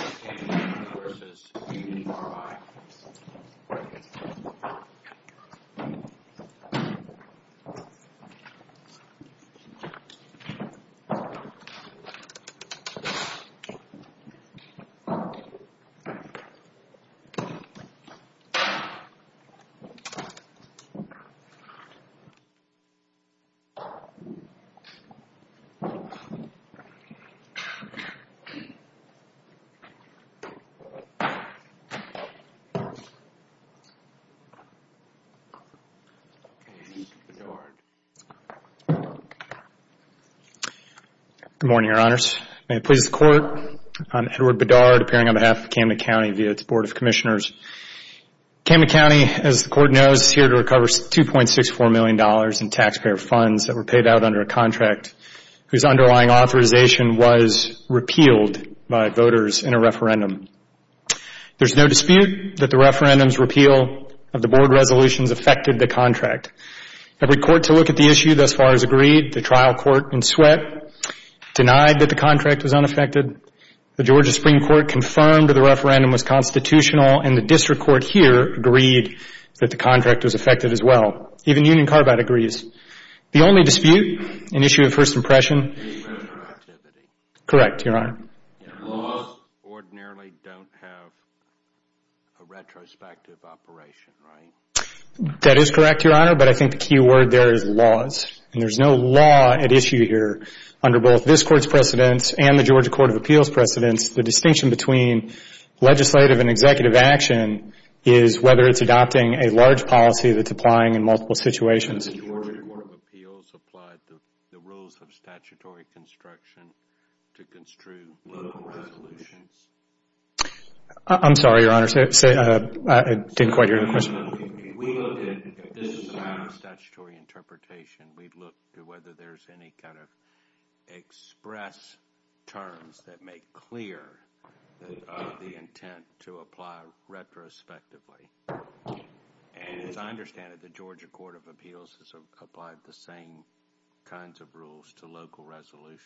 Camden County v. Union Carbide Good morning, Your Honors. May it please the Court, I'm Edward Bedard appearing on behalf of Camden County via its Board of Commissioners. Camden County, as the Court knows, is here to recover $2.64 million in taxpayer funds that were paid out under a contract whose underlying authorization was repealed by voters in a referendum. There's no dispute that the referendum's repeal of the Board resolutions affected the contract. Every court to look at the issue thus far has agreed. The trial court in Sweatt denied that the contract was unaffected. The Georgia Supreme Court confirmed that the referendum was constitutional, and the district court here agreed that the contract was affected as well. Even Union Carbide agrees. The only dispute, an issue of first impression, is voter activity. Correct, Your Honor. Laws ordinarily don't have a retrospective operation, right? That is correct, Your Honor, but I think the key word there is laws, and there's no law at issue here under both this Court's precedence and the Georgia Court of Appeals' precedence. The distinction between legislative and executive action is whether it's adopting a large policy that's applying in multiple situations. The Georgia Court of Appeals applied the rules of statutory construction to construe local resolutions. I'm sorry, Your Honor, I didn't quite hear the question. We looked at this as a matter of statutory interpretation. We looked at whether there's any kind of express terms that make clear the intent to apply retrospectively, and as I understand it, the Georgia Court of Appeals has applied the same kinds of rules to local resolutions.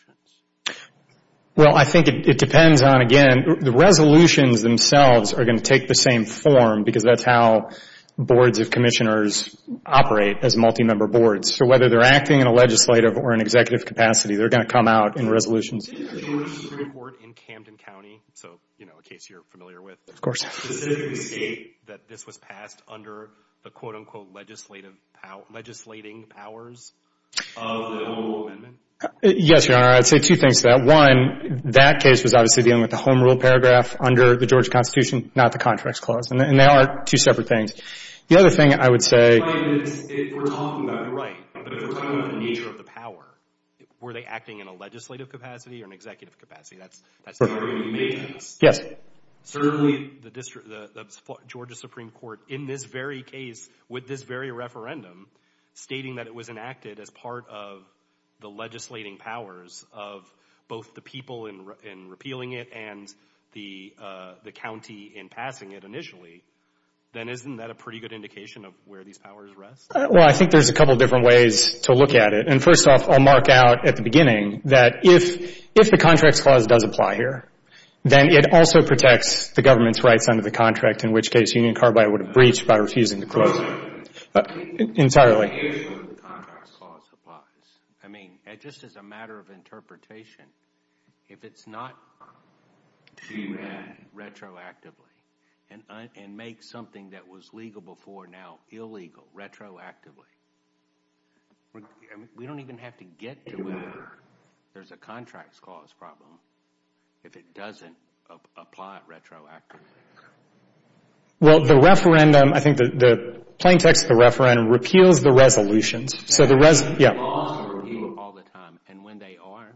Well, I think it depends on, again, the resolutions themselves are going to take the same form because that's how boards of commissioners operate as multi-member boards. So whether they're acting in a legislative or an executive capacity, they're going to come out in resolutions. Did the Georgia Supreme Court in Camden County, so, you know, a case you're familiar with, specifically state that this was passed under the, quote, unquote, legislating powers of the noble amendment? Yes, Your Honor, I'd say two things to that. One, that case was obviously dealing with the home rule paragraph under the Georgia Constitution, not the contracts clause, and they are two separate things. The other thing I would say is if we're talking about, you're right, but if we're talking about the nature of the power, were they acting in a legislative capacity or an executive capacity? That's the argument you made to us. Yes. Certainly the Georgia Supreme Court in this very case, with this very referendum, stating that it was enacted as part of the legislating powers of both the people in repealing it and the county in passing it initially, then isn't that a pretty good indication of where these powers rest? Well, I think there's a couple different ways to look at it. And first off, I'll mark out at the beginning that if the contracts clause does apply here, then it also protects the government's rights under the contract, in which case Union Carbide would have breached by refusing to close it entirely. But here's where the contracts clause applies. I mean, just as a matter of interpretation, if it's not to amend retroactively and make something that was legal before now illegal retroactively, we don't even have to get to where there's a contracts clause problem if it doesn't apply retroactively. Well, the referendum, I think the plain text of the referendum, repeals the resolutions. The laws are repealed all the time. And when they are,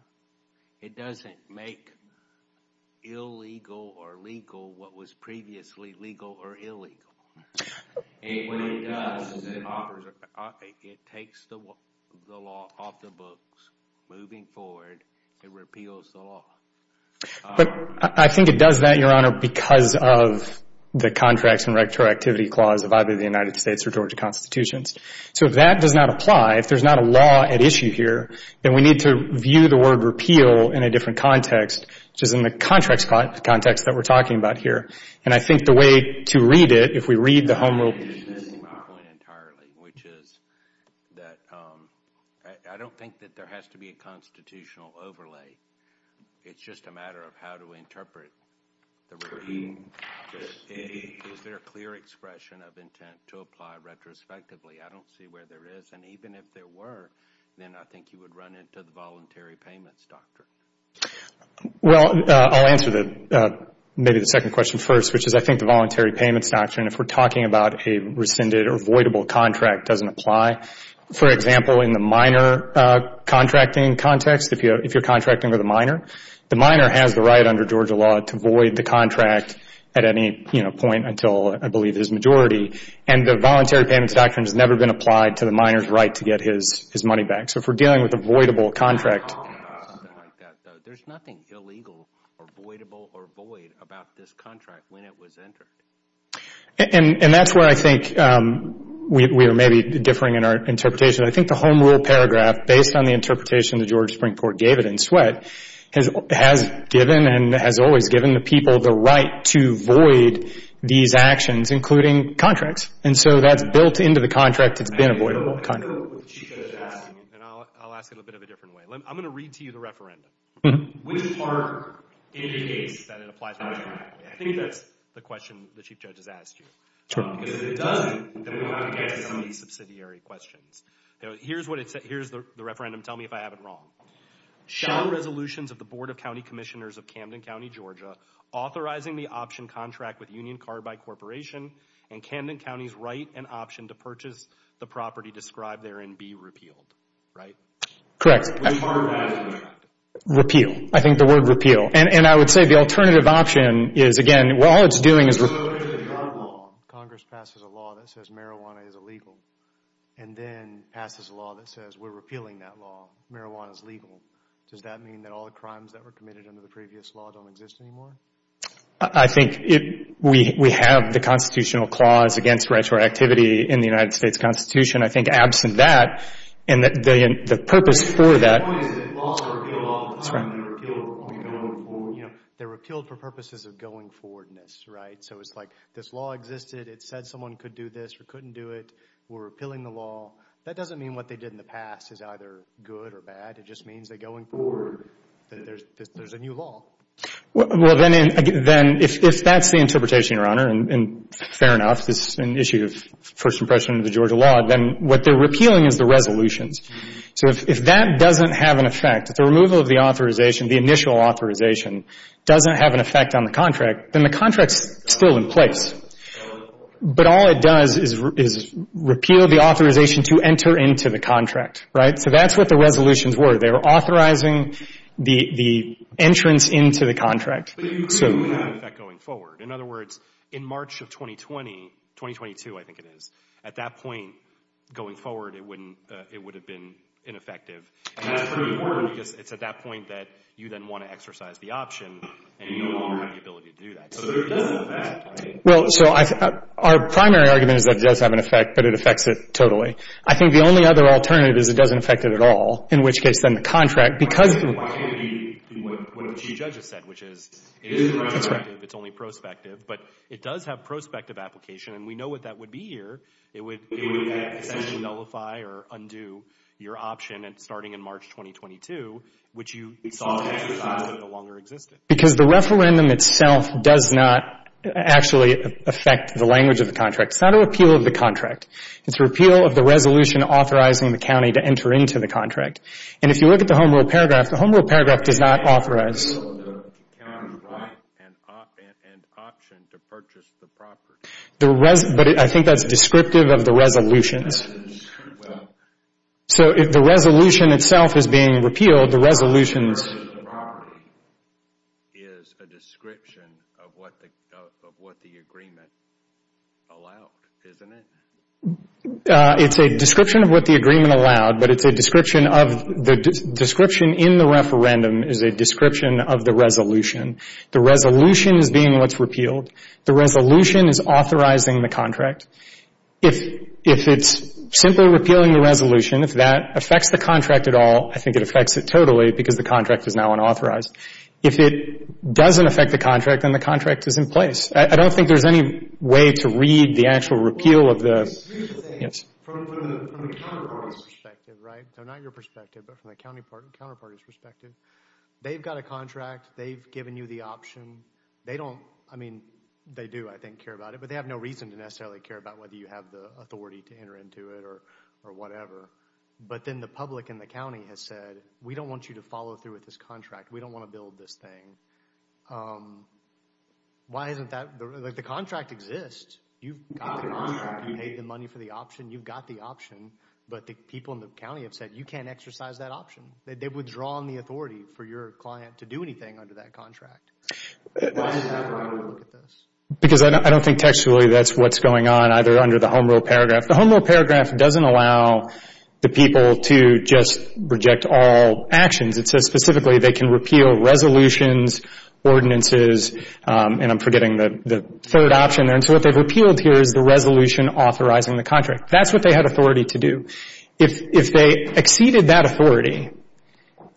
it doesn't make illegal or legal what was previously legal or illegal. When it does, it takes the law off the books. Moving forward, it repeals the law. But I think it does that, Your Honor, because of the contracts and retroactivity clause of either the United States or Georgia constitutions. So if that does not apply, if there's not a law at issue here, then we need to view the word repeal in a different context, which is in the contracts context that we're talking about here. And I think the way to read it, if we read the home rule, which is that I don't think that there has to be a constitutional overlay. It's just a matter of how to interpret the reading. Is there a clear expression of intent to apply retrospectively? I don't see where there is. And even if there were, then I think you would run into the voluntary payments doctrine. Well, I'll answer maybe the second question first, which is I think the voluntary payments doctrine, if we're talking about a rescinded or voidable contract, doesn't apply. For example, in the minor contracting context, if you're contracting with a minor, the minor has the right under Georgia law to void the contract at any point until, I believe, his majority. And the voluntary payments doctrine has never been applied to the minor's right to get his money back. So if we're dealing with a voidable contract. There's nothing illegal or voidable or void about this contract when it was entered. And that's where I think we are maybe differing in our interpretation. I think the home rule paragraph, based on the interpretation that George Springport gave it in Sweatt, has given and has always given the people the right to void these actions, including contracts. And so that's built into the contract that's been a voidable contract. And I'll ask it a bit of a different way. I'm going to read to you the referendum. Which part indicates that it applies to the contract? I think that's the question the chief judge has asked you. Because if it doesn't, then we want to get to some of these subsidiary questions. Here's what it says. Here's the referendum. Tell me if I have it wrong. Shall resolutions of the Board of County Commissioners of Camden County, Georgia, authorizing the option contract with Union Carbide Corporation and Camden County's right and option to purchase the property described there and be repealed, right? Which part of that is the contract? Repeal. I think the word repeal. And I would say the alternative option is, again, all it's doing is repealing. So if Congress passes a law that says marijuana is illegal, and then passes a law that says we're repealing that law, marijuana is legal, does that mean that all the crimes that were committed under the previous law don't exist anymore? I think we have the constitutional clause against retroactivity in the United States Constitution. I think absent that, and the purpose for that— The point is that laws are repealed all the time. They're repealed when we go forward. They're repealed for purposes of going forwardness, right? So it's like this law existed. It said someone could do this or couldn't do it. We're repealing the law. That doesn't mean what they did in the past is either good or bad. It just means that going forward, there's a new law. Well, then if that's the interpretation, Your Honor, and fair enough, this is an issue of first impression of the Georgia law, then what they're repealing is the resolutions. So if that doesn't have an effect, if the removal of the authorization, the initial authorization doesn't have an effect on the contract, then the contract's still in place. But all it does is repeal the authorization to enter into the contract, right? So that's what the resolutions were. They were authorizing the entrance into the contract. But you do have an effect going forward. In other words, in March of 2020—2022, I think it is— at that point going forward, it would have been ineffective. And that's pretty important because it's at that point that you then want to exercise the option, and you no longer have the ability to do that. So it does have an effect, right? Well, so our primary argument is that it does have an effect, but it affects it totally. I think the only other alternative is it doesn't affect it at all, in which case then the contract, because— Why can't it be what the Chief Judge has said, which is— It is prospective. It's only prospective. But it does have prospective application, and we know what that would be here. It would essentially nullify or undo your option starting in March 2022, which you— We saw an exercise. —no longer existed. Because the referendum itself does not actually affect the language of the contract. It's not a repeal of the contract. It's a repeal of the resolution authorizing the county to enter into the contract. And if you look at the Home Rule paragraph, the Home Rule paragraph does not authorize— The county's right and option to purchase the property. But I think that's descriptive of the resolutions. So if the resolution itself is being repealed, the resolutions— Purchasing the property is a description of what the agreement allowed, isn't it? It's a description of what the agreement allowed, but it's a description of— The description in the referendum is a description of the resolution. The resolution is being what's repealed. The resolution is authorizing the contract. If it's simply repealing the resolution, if that affects the contract at all, I think it affects it totally because the contract is now unauthorized. If it doesn't affect the contract, then the contract is in place. I don't think there's any way to read the actual repeal of the— Read the thing from the counterparty's perspective, right? So not your perspective, but from the counterparty's perspective. They've got a contract. They've given you the option. They don't—I mean, they do, I think, care about it, but they have no reason to necessarily care about whether you have the authority to enter into it or whatever. But then the public in the county has said, we don't want you to follow through with this contract. We don't want to build this thing. Why isn't that—like, the contract exists. You've got the option. You paid the money for the option. You've got the option. But the people in the county have said, you can't exercise that option. They've withdrawn the authority for your client to do anything under that contract. Why is that the way to look at this? Because I don't think textually that's what's going on either under the home rule paragraph. The home rule paragraph doesn't allow the people to just reject all actions. It says specifically they can repeal resolutions, ordinances, and I'm forgetting the third option there. And so what they've repealed here is the resolution authorizing the contract. That's what they had authority to do. If they exceeded that authority,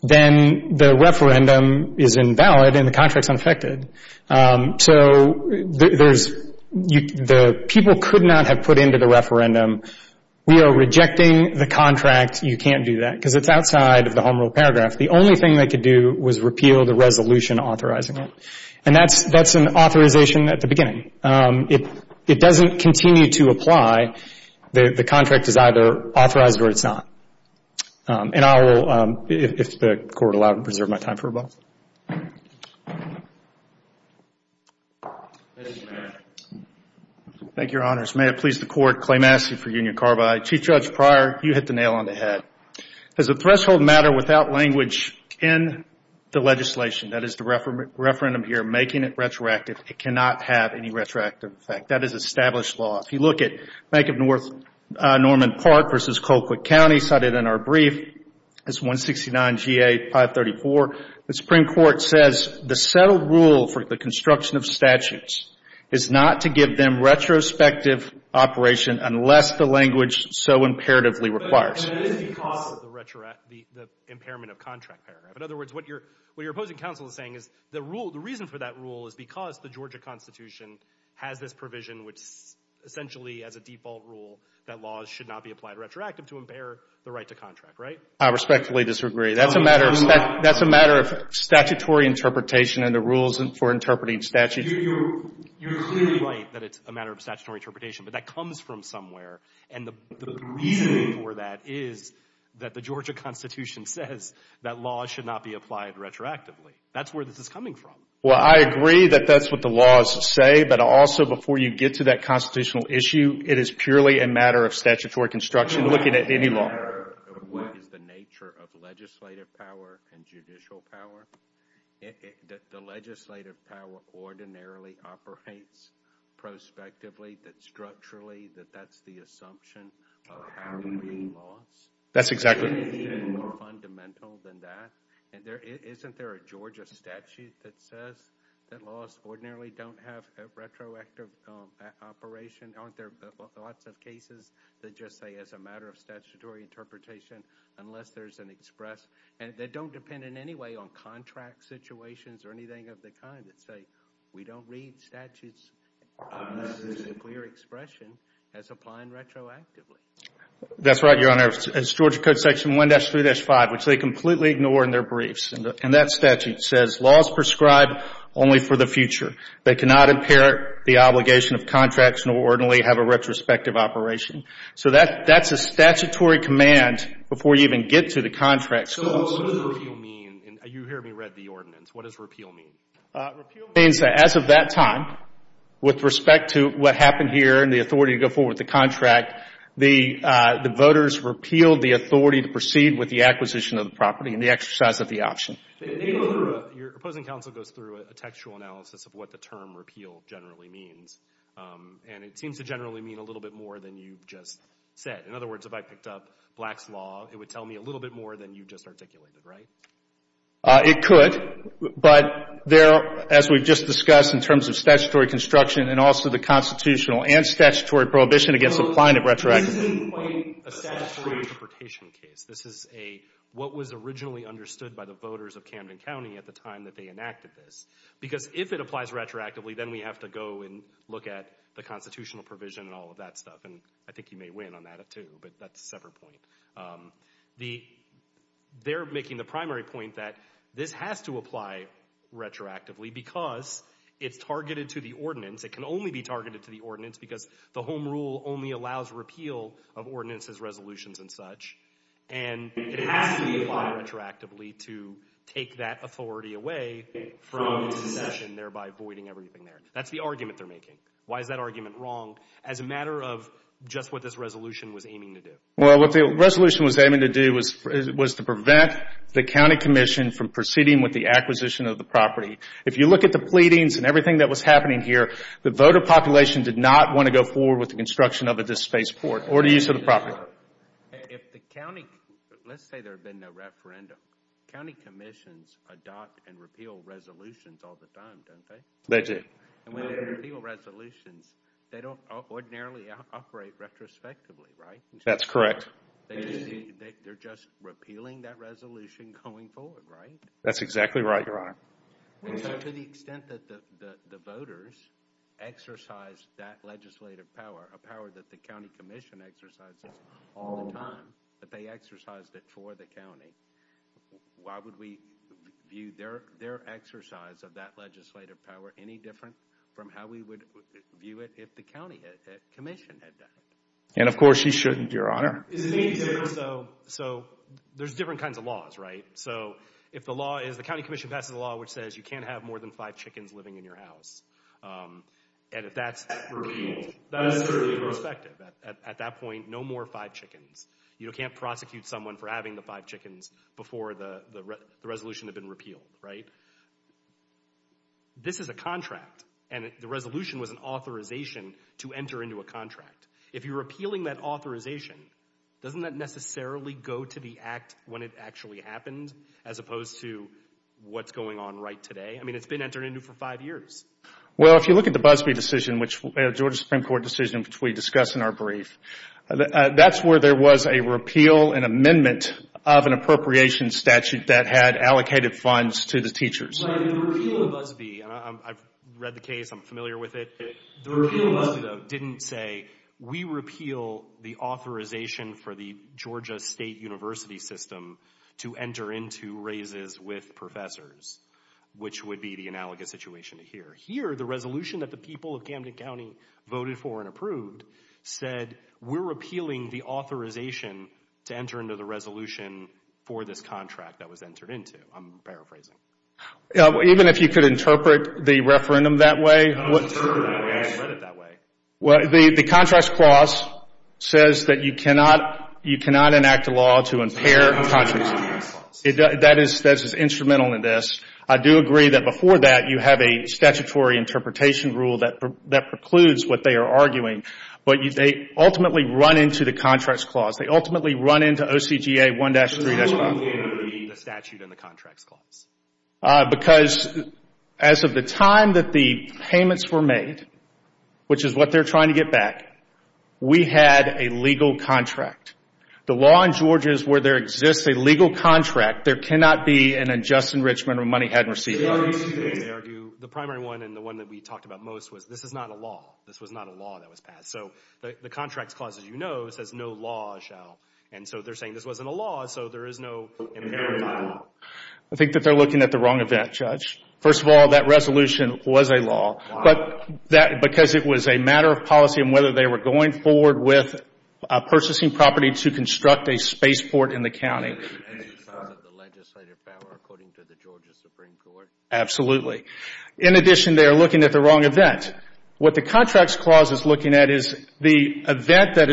then the referendum is invalid and the contract's unaffected. So there's—the people could not have put into the referendum, we are rejecting the contract, you can't do that because it's outside of the home rule paragraph. The only thing they could do was repeal the resolution authorizing it. And that's an authorization at the beginning. It doesn't continue to apply. The contract is either authorized or it's not. And I will, if the Court will allow me to preserve my time for a moment. Thank you, Your Honors. May it please the Court, Clay Massey for Union Carbide. Chief Judge Pryor, you hit the nail on the head. As a threshold matter without language in the legislation, that is the referendum here, making it retroactive, it cannot have any retroactive effect. That is established law. If you look at Bank of North Norman Park v. Colquitt County cited in our brief, it's 169 G.A. 534. The Supreme Court says the settled rule for the construction of statutes is not to give them retrospective operation unless the language so imperatively requires it. But it is because of the impairment of contract paragraph. In other words, what your opposing counsel is saying is the rule, the reason for that rule is because the Georgia Constitution has this provision which essentially as a default rule that laws should not be applied retroactively to impair the right to contract, right? I respectfully disagree. That's a matter of statutory interpretation and the rules for interpreting statute. You're clearly right that it's a matter of statutory interpretation, but that comes from somewhere. And the reason for that is that the Georgia Constitution says that laws should not be applied retroactively. That's where this is coming from. Well, I agree that that's what the laws say, but also before you get to that constitutional issue, it is purely a matter of statutory construction looking at any law. What is the nature of legislative power and judicial power? The legislative power ordinarily operates prospectively, structurally, that that's the assumption of how we read laws. That's exactly right. Is there anything more fundamental than that? Isn't there a Georgia statute that says that laws ordinarily don't have a retroactive operation? Aren't there lots of cases that just say it's a matter of statutory interpretation unless there's an express? And they don't depend in any way on contract situations or anything of the kind that say we don't read statutes unless there's a clear expression as applying retroactively. That's right, Your Honor. It's Georgia Code Section 1-3-5, which they completely ignore in their briefs. And that statute says laws prescribed only for the future. They cannot impair the obligation of contracts nor ordinarily have a retrospective operation. So that's a statutory command before you even get to the contract. So what does repeal mean? You heard me read the ordinance. What does repeal mean? Repeal means that as of that time, with respect to what happened here and the authority to go forward with the contract, the voters repealed the authority to proceed with the acquisition of the property and the exercise of the option. Your opposing counsel goes through a textual analysis of what the term repeal generally means. And it seems to generally mean a little bit more than you just said. In other words, if I picked up Black's Law, it would tell me a little bit more than you just articulated, right? It could, but there, as we've just discussed, in terms of statutory construction and also the constitutional and statutory prohibition against applying it retroactively. This isn't quite a statutory interpretation case. This is what was originally understood by the voters of Camden County at the time that they enacted this. Because if it applies retroactively, then we have to go and look at the constitutional provision and all of that stuff. And I think you may win on that too, but that's a separate point. They're making the primary point that this has to apply retroactively because it's targeted to the ordinance. It can only be targeted to the ordinance because the home rule only allows repeal of ordinances, resolutions, and such. And it has to be applied retroactively to take that authority away from secession, thereby voiding everything there. That's the argument they're making. Why is that argument wrong as a matter of just what this resolution was aiming to do? Well, what the resolution was aiming to do was to prevent the county commission from proceeding with the acquisition of the property. If you look at the pleadings and everything that was happening here, the voter population did not want to go forward with the construction of this spaceport or the use of the property. Let's say there had been no referendum. County commissions adopt and repeal resolutions all the time, don't they? They do. And when they repeal resolutions, they don't ordinarily operate retrospectively, right? That's correct. They're just repealing that resolution going forward, right? That's exactly right, Your Honor. To the extent that the voters exercise that legislative power, a power that the county commission exercises all the time, that they exercise that for the county, why would we view their exercise of that legislative power any different from how we would view it if the county commission had done it? And, of course, you shouldn't, Your Honor. So there's different kinds of laws, right? So if the law is the county commission passes a law which says you can't have more than five chickens living in your house, and if that's repealed, that is certainly irrespective. At that point, no more five chickens. You can't prosecute someone for having the five chickens before the resolution had been repealed, right? This is a contract, and the resolution was an authorization to enter into a contract. If you're repealing that authorization, doesn't that necessarily go to the act when it actually happened as opposed to what's going on right today? I mean, it's been entered into for five years. Well, if you look at the Busbee decision, which a Georgia Supreme Court decision which we discussed in our brief, that's where there was a repeal and amendment of an appropriation statute that had allocated funds to the teachers. So the repeal of Busbee, and I've read the case. I'm familiar with it. The repeal of Busbee, though, didn't say we repeal the authorization for the Georgia State University system to enter into raises with professors, which would be the analogous situation to here. Here, the resolution that the people of Camden County voted for and approved said we're repealing the authorization to enter into the resolution for this contract that was entered into. I'm paraphrasing. Even if you could interpret the referendum that way? I've interpreted it that way. I've read it that way. The contracts clause says that you cannot enact a law to impair contracts. That is instrumental in this. I do agree that before that, you have a statutory interpretation rule that precludes what they are arguing, but they ultimately run into the contracts clause. They ultimately run into OCGA 1-3-5. The statute and the contracts clause. Because as of the time that the payments were made, which is what they're trying to get back, we had a legal contract. The law in Georgia is where there exists a legal contract. There cannot be an adjust in Richmond when money hadn't received. The primary one and the one that we talked about most was this is not a law. This was not a law that was passed. So the contracts clause, as you know, says no law shall. And so they're saying this wasn't a law, so there is no impairment. I think that they're looking at the wrong event, Judge. First of all, that resolution was a law because it was a matter of policy and whether they were going forward with a purchasing property to construct a spaceport in the county. And it's because of the legislative power according to the Georgia Supreme Court. Absolutely. In addition, they are looking at the wrong event. What the contracts clause is looking at is the event that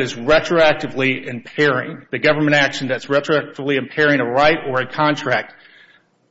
is retroactively impairing, the government action that's retroactively impairing a right or a contract,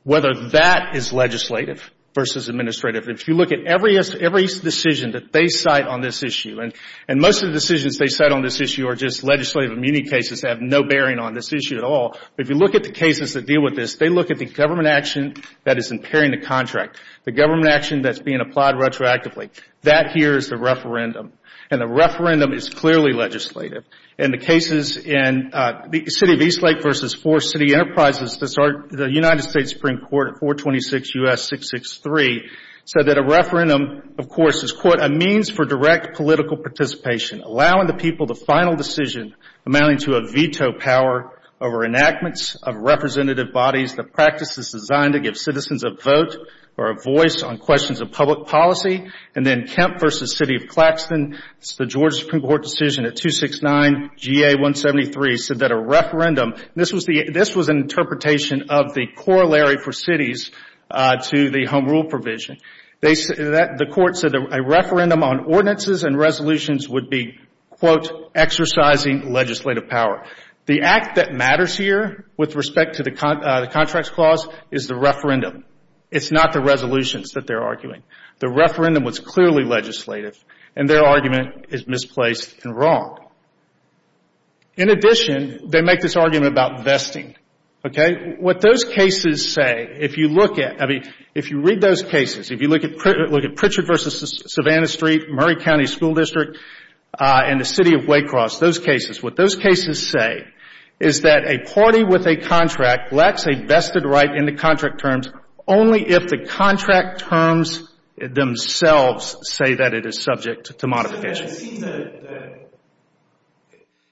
whether that is legislative versus administrative. If you look at every decision that they cite on this issue, and most of the decisions they cite on this issue are just legislative immunity cases that have no bearing on this issue at all. If you look at the cases that deal with this, they look at the government action that is impairing the contract. The government action that's being applied retroactively. That here is the referendum. And the referendum is clearly legislative. In the cases in the City of Eastlake versus Four City Enterprises, the United States Supreme Court at 426 U.S. 663 said that a referendum, of course, is, quote, a means for direct political participation, allowing the people the final decision amounting to a veto power over enactments of representative bodies, the practice is designed to give citizens a vote or a voice on questions of public policy. And then Kemp versus City of Claxton, it's the Georgia Supreme Court decision at 269 GA 173, said that a referendum, this was an interpretation of the corollary for cities to the home rule provision. The court said a referendum on ordinances and resolutions would be, quote, exercising legislative power. The act that matters here with respect to the contracts clause is the referendum. It's not the resolutions that they're arguing. The referendum was clearly legislative, and their argument is misplaced and wrong. In addition, they make this argument about vesting. Okay? What those cases say, if you look at, I mean, if you read those cases, if you look at Pritchard versus Savannah Street, Murray County School District, and the City of Waycross, those cases, what those cases say is that a party with a contract lacks a vested right in the contract terms only if the contract terms themselves say that it is subject to modification.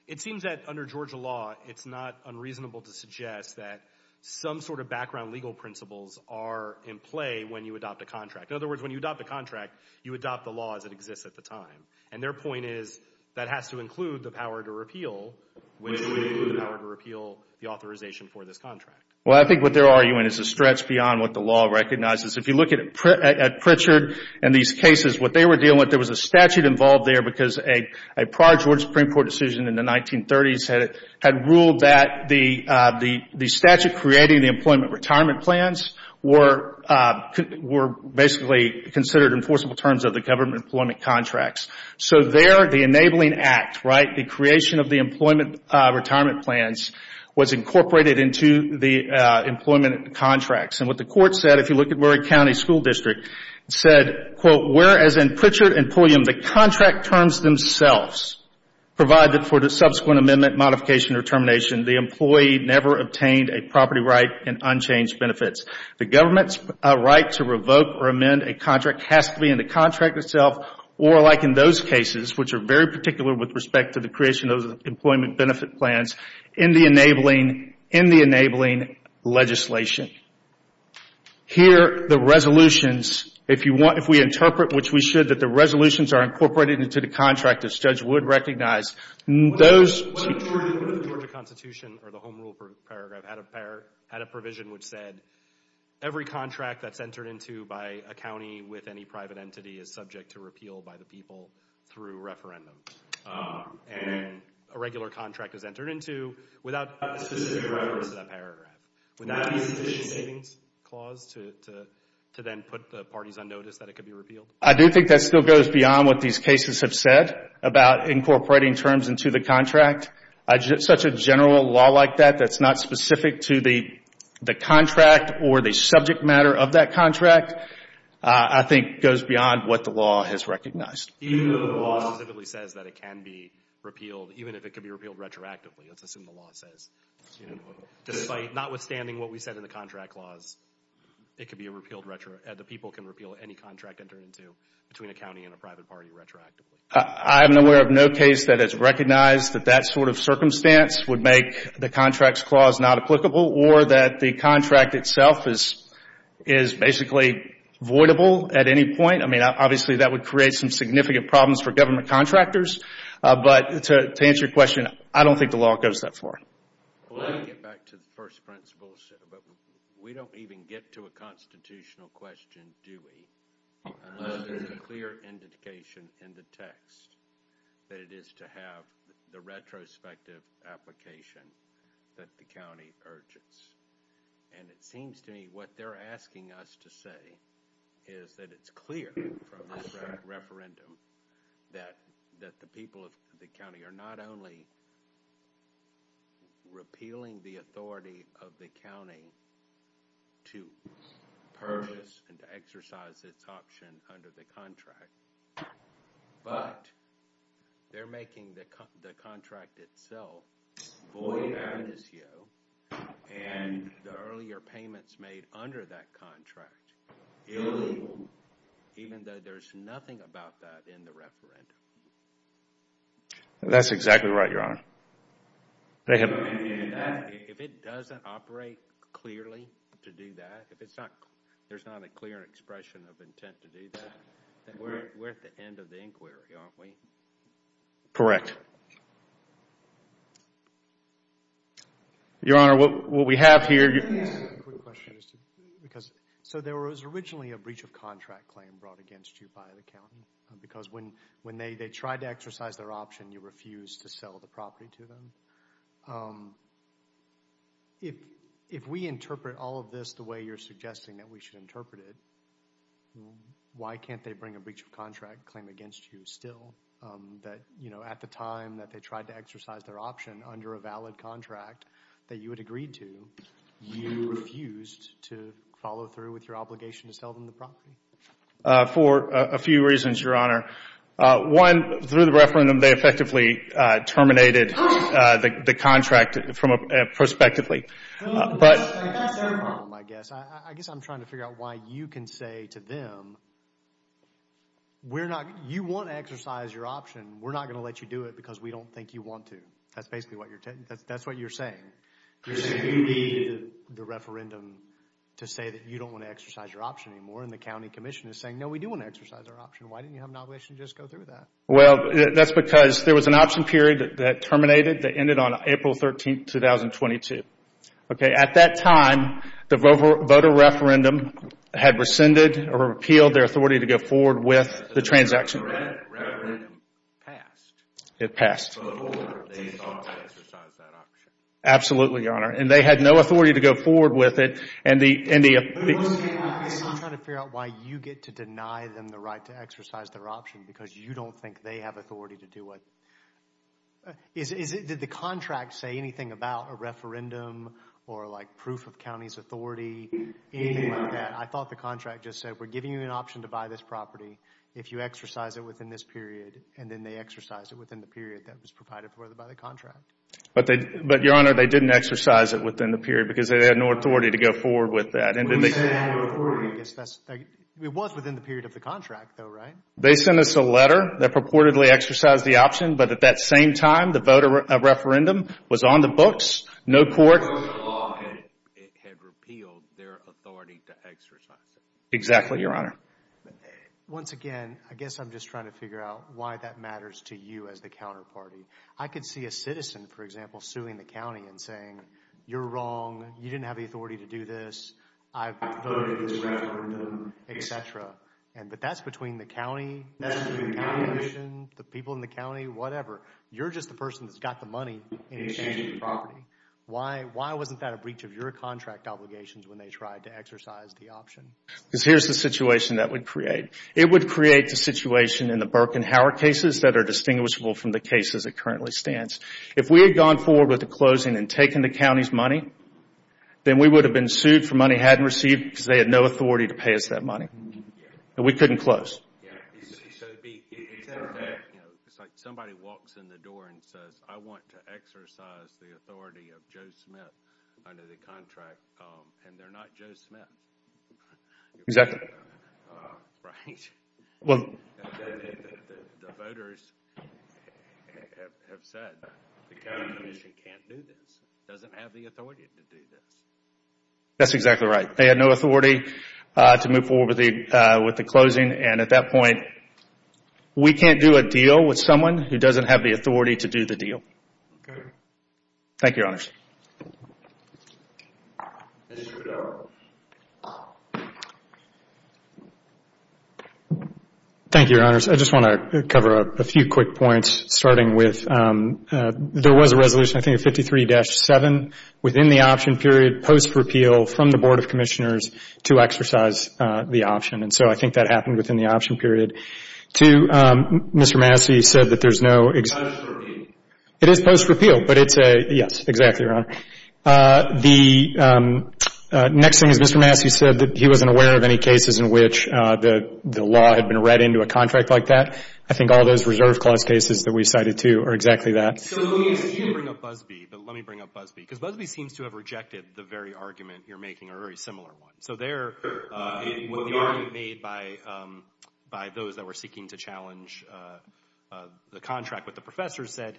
It seems that under Georgia law, it's not unreasonable to suggest that some sort of background legal principles are in play when you adopt a contract. In other words, when you adopt a contract, you adopt the law as it exists at the time. And their point is that has to include the power to repeal the authorization for this contract. Well, I think what they're arguing is a stretch beyond what the law recognizes. If you look at Pritchard and these cases, what they were dealing with, there was a statute involved there because a prior Georgia Supreme Court decision in the 1930s had ruled that the statute creating the employment retirement plans were basically considered enforceable terms of the government employment contracts. So there, the enabling act, right, the creation of the employment retirement plans, was incorporated into the employment contracts. And what the court said, if you look at Murray County School District, said, quote, whereas in Pritchard and Pulliam, the contract terms themselves provided for the subsequent amendment, modification, or termination, the employee never obtained a property right and unchanged benefits. The government's right to revoke or amend a contract has to be in the contract itself or like in those cases, which are very particular with respect to the creation of employment benefit plans, in the enabling legislation. Here, the resolutions, if we interpret, which we should, that the resolutions are incorporated into the contract, as Judge Wood recognized. What if the Georgia Constitution or the Home Rule Paragraph had a provision which said every contract that's entered into by a county with any private entity is subject to repeal by the people through referendum and a regular contract is entered into without specific reference to that paragraph? Would that be sufficient savings clause to then put the parties on notice that it could be repealed? I do think that still goes beyond what these cases have said about incorporating terms into the contract. Such a general law like that that's not specific to the contract or the subject matter of that contract, I think, goes beyond what the law has recognized. Even though the law specifically says that it can be repealed, even if it could be repealed retroactively, let's assume the law says. Despite, notwithstanding what we said in the contract laws, it could be repealed retroactively. The people can repeal any contract entered into between a county and a private party retroactively. I am aware of no case that has recognized that that sort of circumstance would make the contracts clause not applicable or that the contract itself is basically voidable at any point. I mean, obviously, that would create some significant problems for government contractors. But to answer your question, I don't think the law goes that far. Well, let me get back to the first principles. We don't even get to a constitutional question, do we? Unless there's a clear indication in the text that it is to have the retrospective application that the county urges. And it seems to me what they're asking us to say is that it's clear from this referendum that the people of the county are not only repealing the authority of the county to purchase and to exercise its option under the contract, but they're making the contract itself void of amnesty. And the earlier payments made under that contract are illegal, even though there's nothing about that in the referendum. That's exactly right, Your Honor. If it doesn't operate clearly to do that, if there's not a clear expression of intent to do that, then we're at the end of the inquiry, aren't we? Correct. Your Honor, what we have here... So there was originally a breach of contract claim brought against you by the county. Because when they tried to exercise their option, you refused to sell the property to them. If we interpret all of this the way you're suggesting that we should interpret it, why can't they bring a breach of contract claim against you still? At the time that they tried to exercise their option under a valid contract that you had agreed to, you refused to follow through with your obligation to sell them the property? For a few reasons, Your Honor. One, through the referendum, they effectively terminated the contract prospectively. That's their problem, I guess. I guess I'm trying to figure out why you can say to them, you want to exercise your option, we're not going to let you do it because we don't think you want to. That's basically what you're saying. You're saying you need the referendum to say that you don't want to exercise your option anymore, and the county commission is saying, no, we do want to exercise our option. Why didn't you have an obligation to just go through with that? Well, that's because there was an option period that terminated that ended on April 13, 2022. At that time, the voter referendum had rescinded or repealed their authority to go forward with the transaction. The referendum passed. It passed. Absolutely, Your Honor. And they had no authority to go forward with it. I'm trying to figure out why you get to deny them the right to exercise their option because you don't think they have authority to do it. Did the contract say anything about a referendum or like proof of county's authority, anything like that? I thought the contract just said, we're giving you an option to buy this property if you exercise it within this period, and then they exercise it within the period that was provided for them by the contract. But, Your Honor, they didn't exercise it within the period because they had no authority to go forward with that. Who said they had no authority? It was within the period of the contract, though, right? They sent us a letter that purportedly exercised the option, but at that same time, the voter referendum was on the books. No court had repealed their authority to exercise it. Exactly, Your Honor. Once again, I guess I'm just trying to figure out why that matters to you as the counterparty. I could see a citizen, for example, suing the county and saying, you're wrong, you didn't have the authority to do this, I voted this referendum, et cetera. But that's between the county, the people in the county, whatever. You're just the person that's got the money in exchange for the property. Why wasn't that a breach of your contract obligations when they tried to exercise the option? Because here's the situation that would create. It would create the situation in the Burke and Howard cases that are distinguishable from the cases it currently stands. If we had gone forward with the closing and taken the county's money, then we would have been sued for money hadn't received because they had no authority to pay us that money. We couldn't close. It's like somebody walks in the door and says, I want to exercise the authority of Joe Smith under the contract, and they're not Joe Smith. Right. The voters have said the county commission can't do this, doesn't have the authority to do this. That's exactly right. They had no authority to move forward with the closing, and at that point we can't do a deal with someone who doesn't have the authority to do the deal. Thank you, Your Honors. Thank you, Your Honors. I just want to cover a few quick points starting with there was a resolution, I think, of 53-7 within the option period post-repeal from the Board of Commissioners to exercise the option, and so I think that happened within the option period. Two, Mr. Massey said that there's no ex- Post-repeal. It is post-repeal, but it's a, yes, exactly, Your Honor. The next thing is Mr. Massey said that he wasn't aware of any cases in which the law had been read into a contract like that. I think all those reserve clause cases that we cited, too, are exactly that. So let me bring up Busbee because Busbee seems to have rejected the very argument you're making, a very similar one. So there, the argument made by those that were seeking to challenge the contract with the professors said,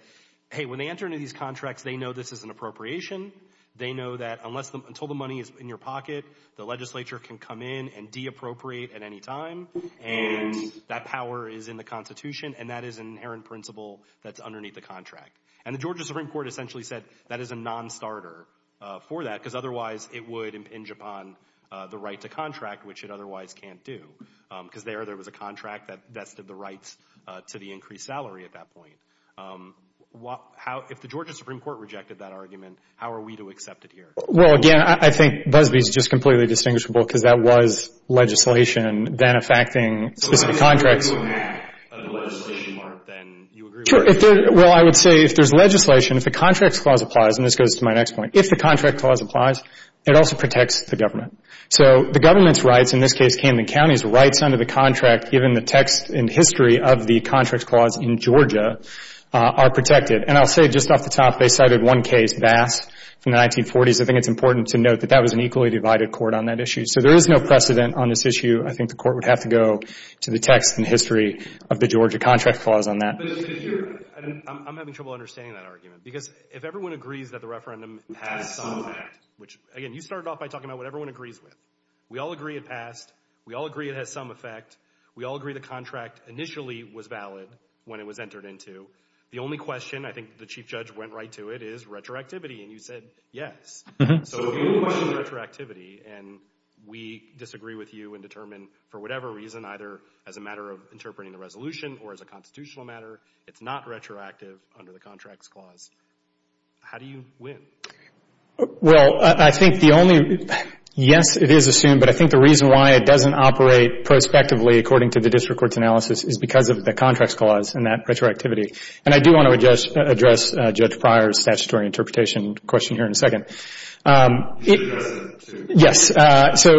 hey, when they enter into these contracts, they know this is an appropriation. They know that until the money is in your pocket, the legislature can come in and deappropriate at any time, and that power is in the Constitution, and that is an inherent principle that's underneath the contract. And the Georgia Supreme Court essentially said that is a non-starter for that because otherwise it would impinge upon the right to contract, which it otherwise can't do because there, there was a contract that vested the rights to the increased salary at that point. If the Georgia Supreme Court rejected that argument, how are we to accept it here? Well, again, I think Busbee is just completely distinguishable because that was legislation then effecting specific contracts. Well, if you have a legislation mark, then you agree with that. Well, I would say if there's legislation, if the Contracts Clause applies, and this goes to my next point, if the Contracts Clause applies, it also protects the government. So the government's rights, in this case Camden County's rights, under the contract given the text and history of the Contracts Clause in Georgia are protected. And I'll say just off the top they cited one case, Bass, from the 1940s. I think it's important to note that that was an equally divided court on that issue. So there is no precedent on this issue. I think the court would have to go to the text and history of the Georgia Contracts Clause on that. I'm having trouble understanding that argument because if everyone agrees that the referendum has some effect, which, again, you started off by talking about what everyone agrees with. We all agree it passed. We all agree it has some effect. We all agree the contract initially was valid when it was entered into. The only question, I think the Chief Judge went right to it, is retroactivity, and you said yes. So if you question retroactivity and we disagree with you and determine for whatever reason either as a matter of interpreting the resolution or as a constitutional matter it's not retroactive under the Contracts Clause, how do you win? Well, I think the only yes, it is assumed, but I think the reason why it doesn't operate prospectively according to the district court's analysis is because of the Contracts Clause and that retroactivity. And I do want to address Judge Pryor's statutory interpretation question here in a second. Yes. So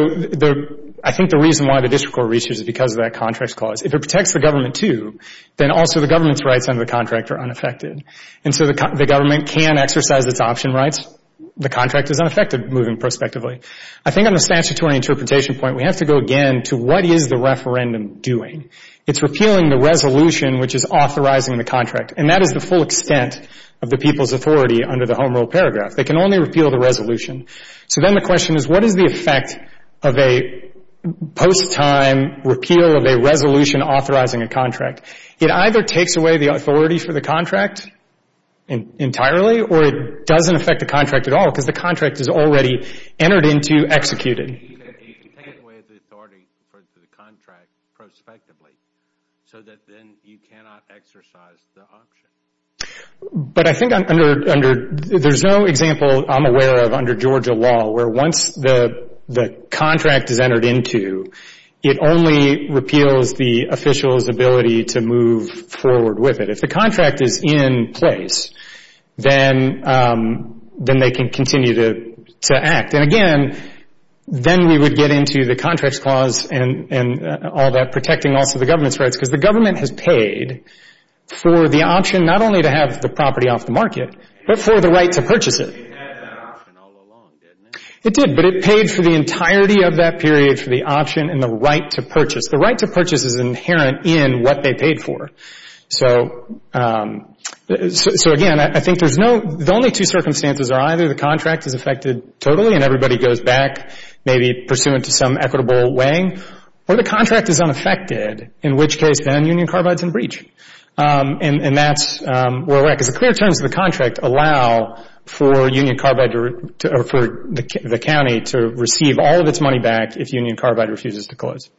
I think the reason why the district court reaches it is because of that Contracts Clause. If it protects the government too, then also the government's rights under the contract are unaffected. And so the government can exercise its option rights. The contract is unaffected moving prospectively. I think on the statutory interpretation point, we have to go again to what is the referendum doing. It's repealing the resolution which is authorizing the contract, and that is the full extent of the people's authority under the Home Rule Paragraph. They can only repeal the resolution. So then the question is what is the effect of a post-time repeal of a resolution authorizing a contract. It either takes away the authority for the contract entirely or it doesn't affect the contract at all because the contract is already entered into, executed. You can take away the authority for the contract prospectively so that then you cannot exercise the option. But I think there's no example I'm aware of under Georgia law where once the contract is entered into, it only repeals the official's ability to move forward with it. If the contract is in place, then they can continue to act. And again, then we would get into the Contracts Clause and all that, protecting also the government's rights for the option not only to have the property off the market, but for the right to purchase it. It did, but it paid for the entirety of that period for the option and the right to purchase. The right to purchase is inherent in what they paid for. So again, I think there's no, the only two circumstances are either the contract is affected totally and everybody goes back, maybe pursuant to some equitable weighing, or the contract is unaffected, in which case then Union Carbide's in breach. And that's where we're at. Because the clear terms of the contract allow for Union Carbide to, or for the county to receive all of its money back if Union Carbide refuses to close.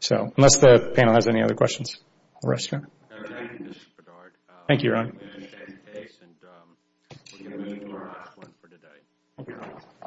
So unless the panel has any other questions, we'll rest here. Thank you, Ron.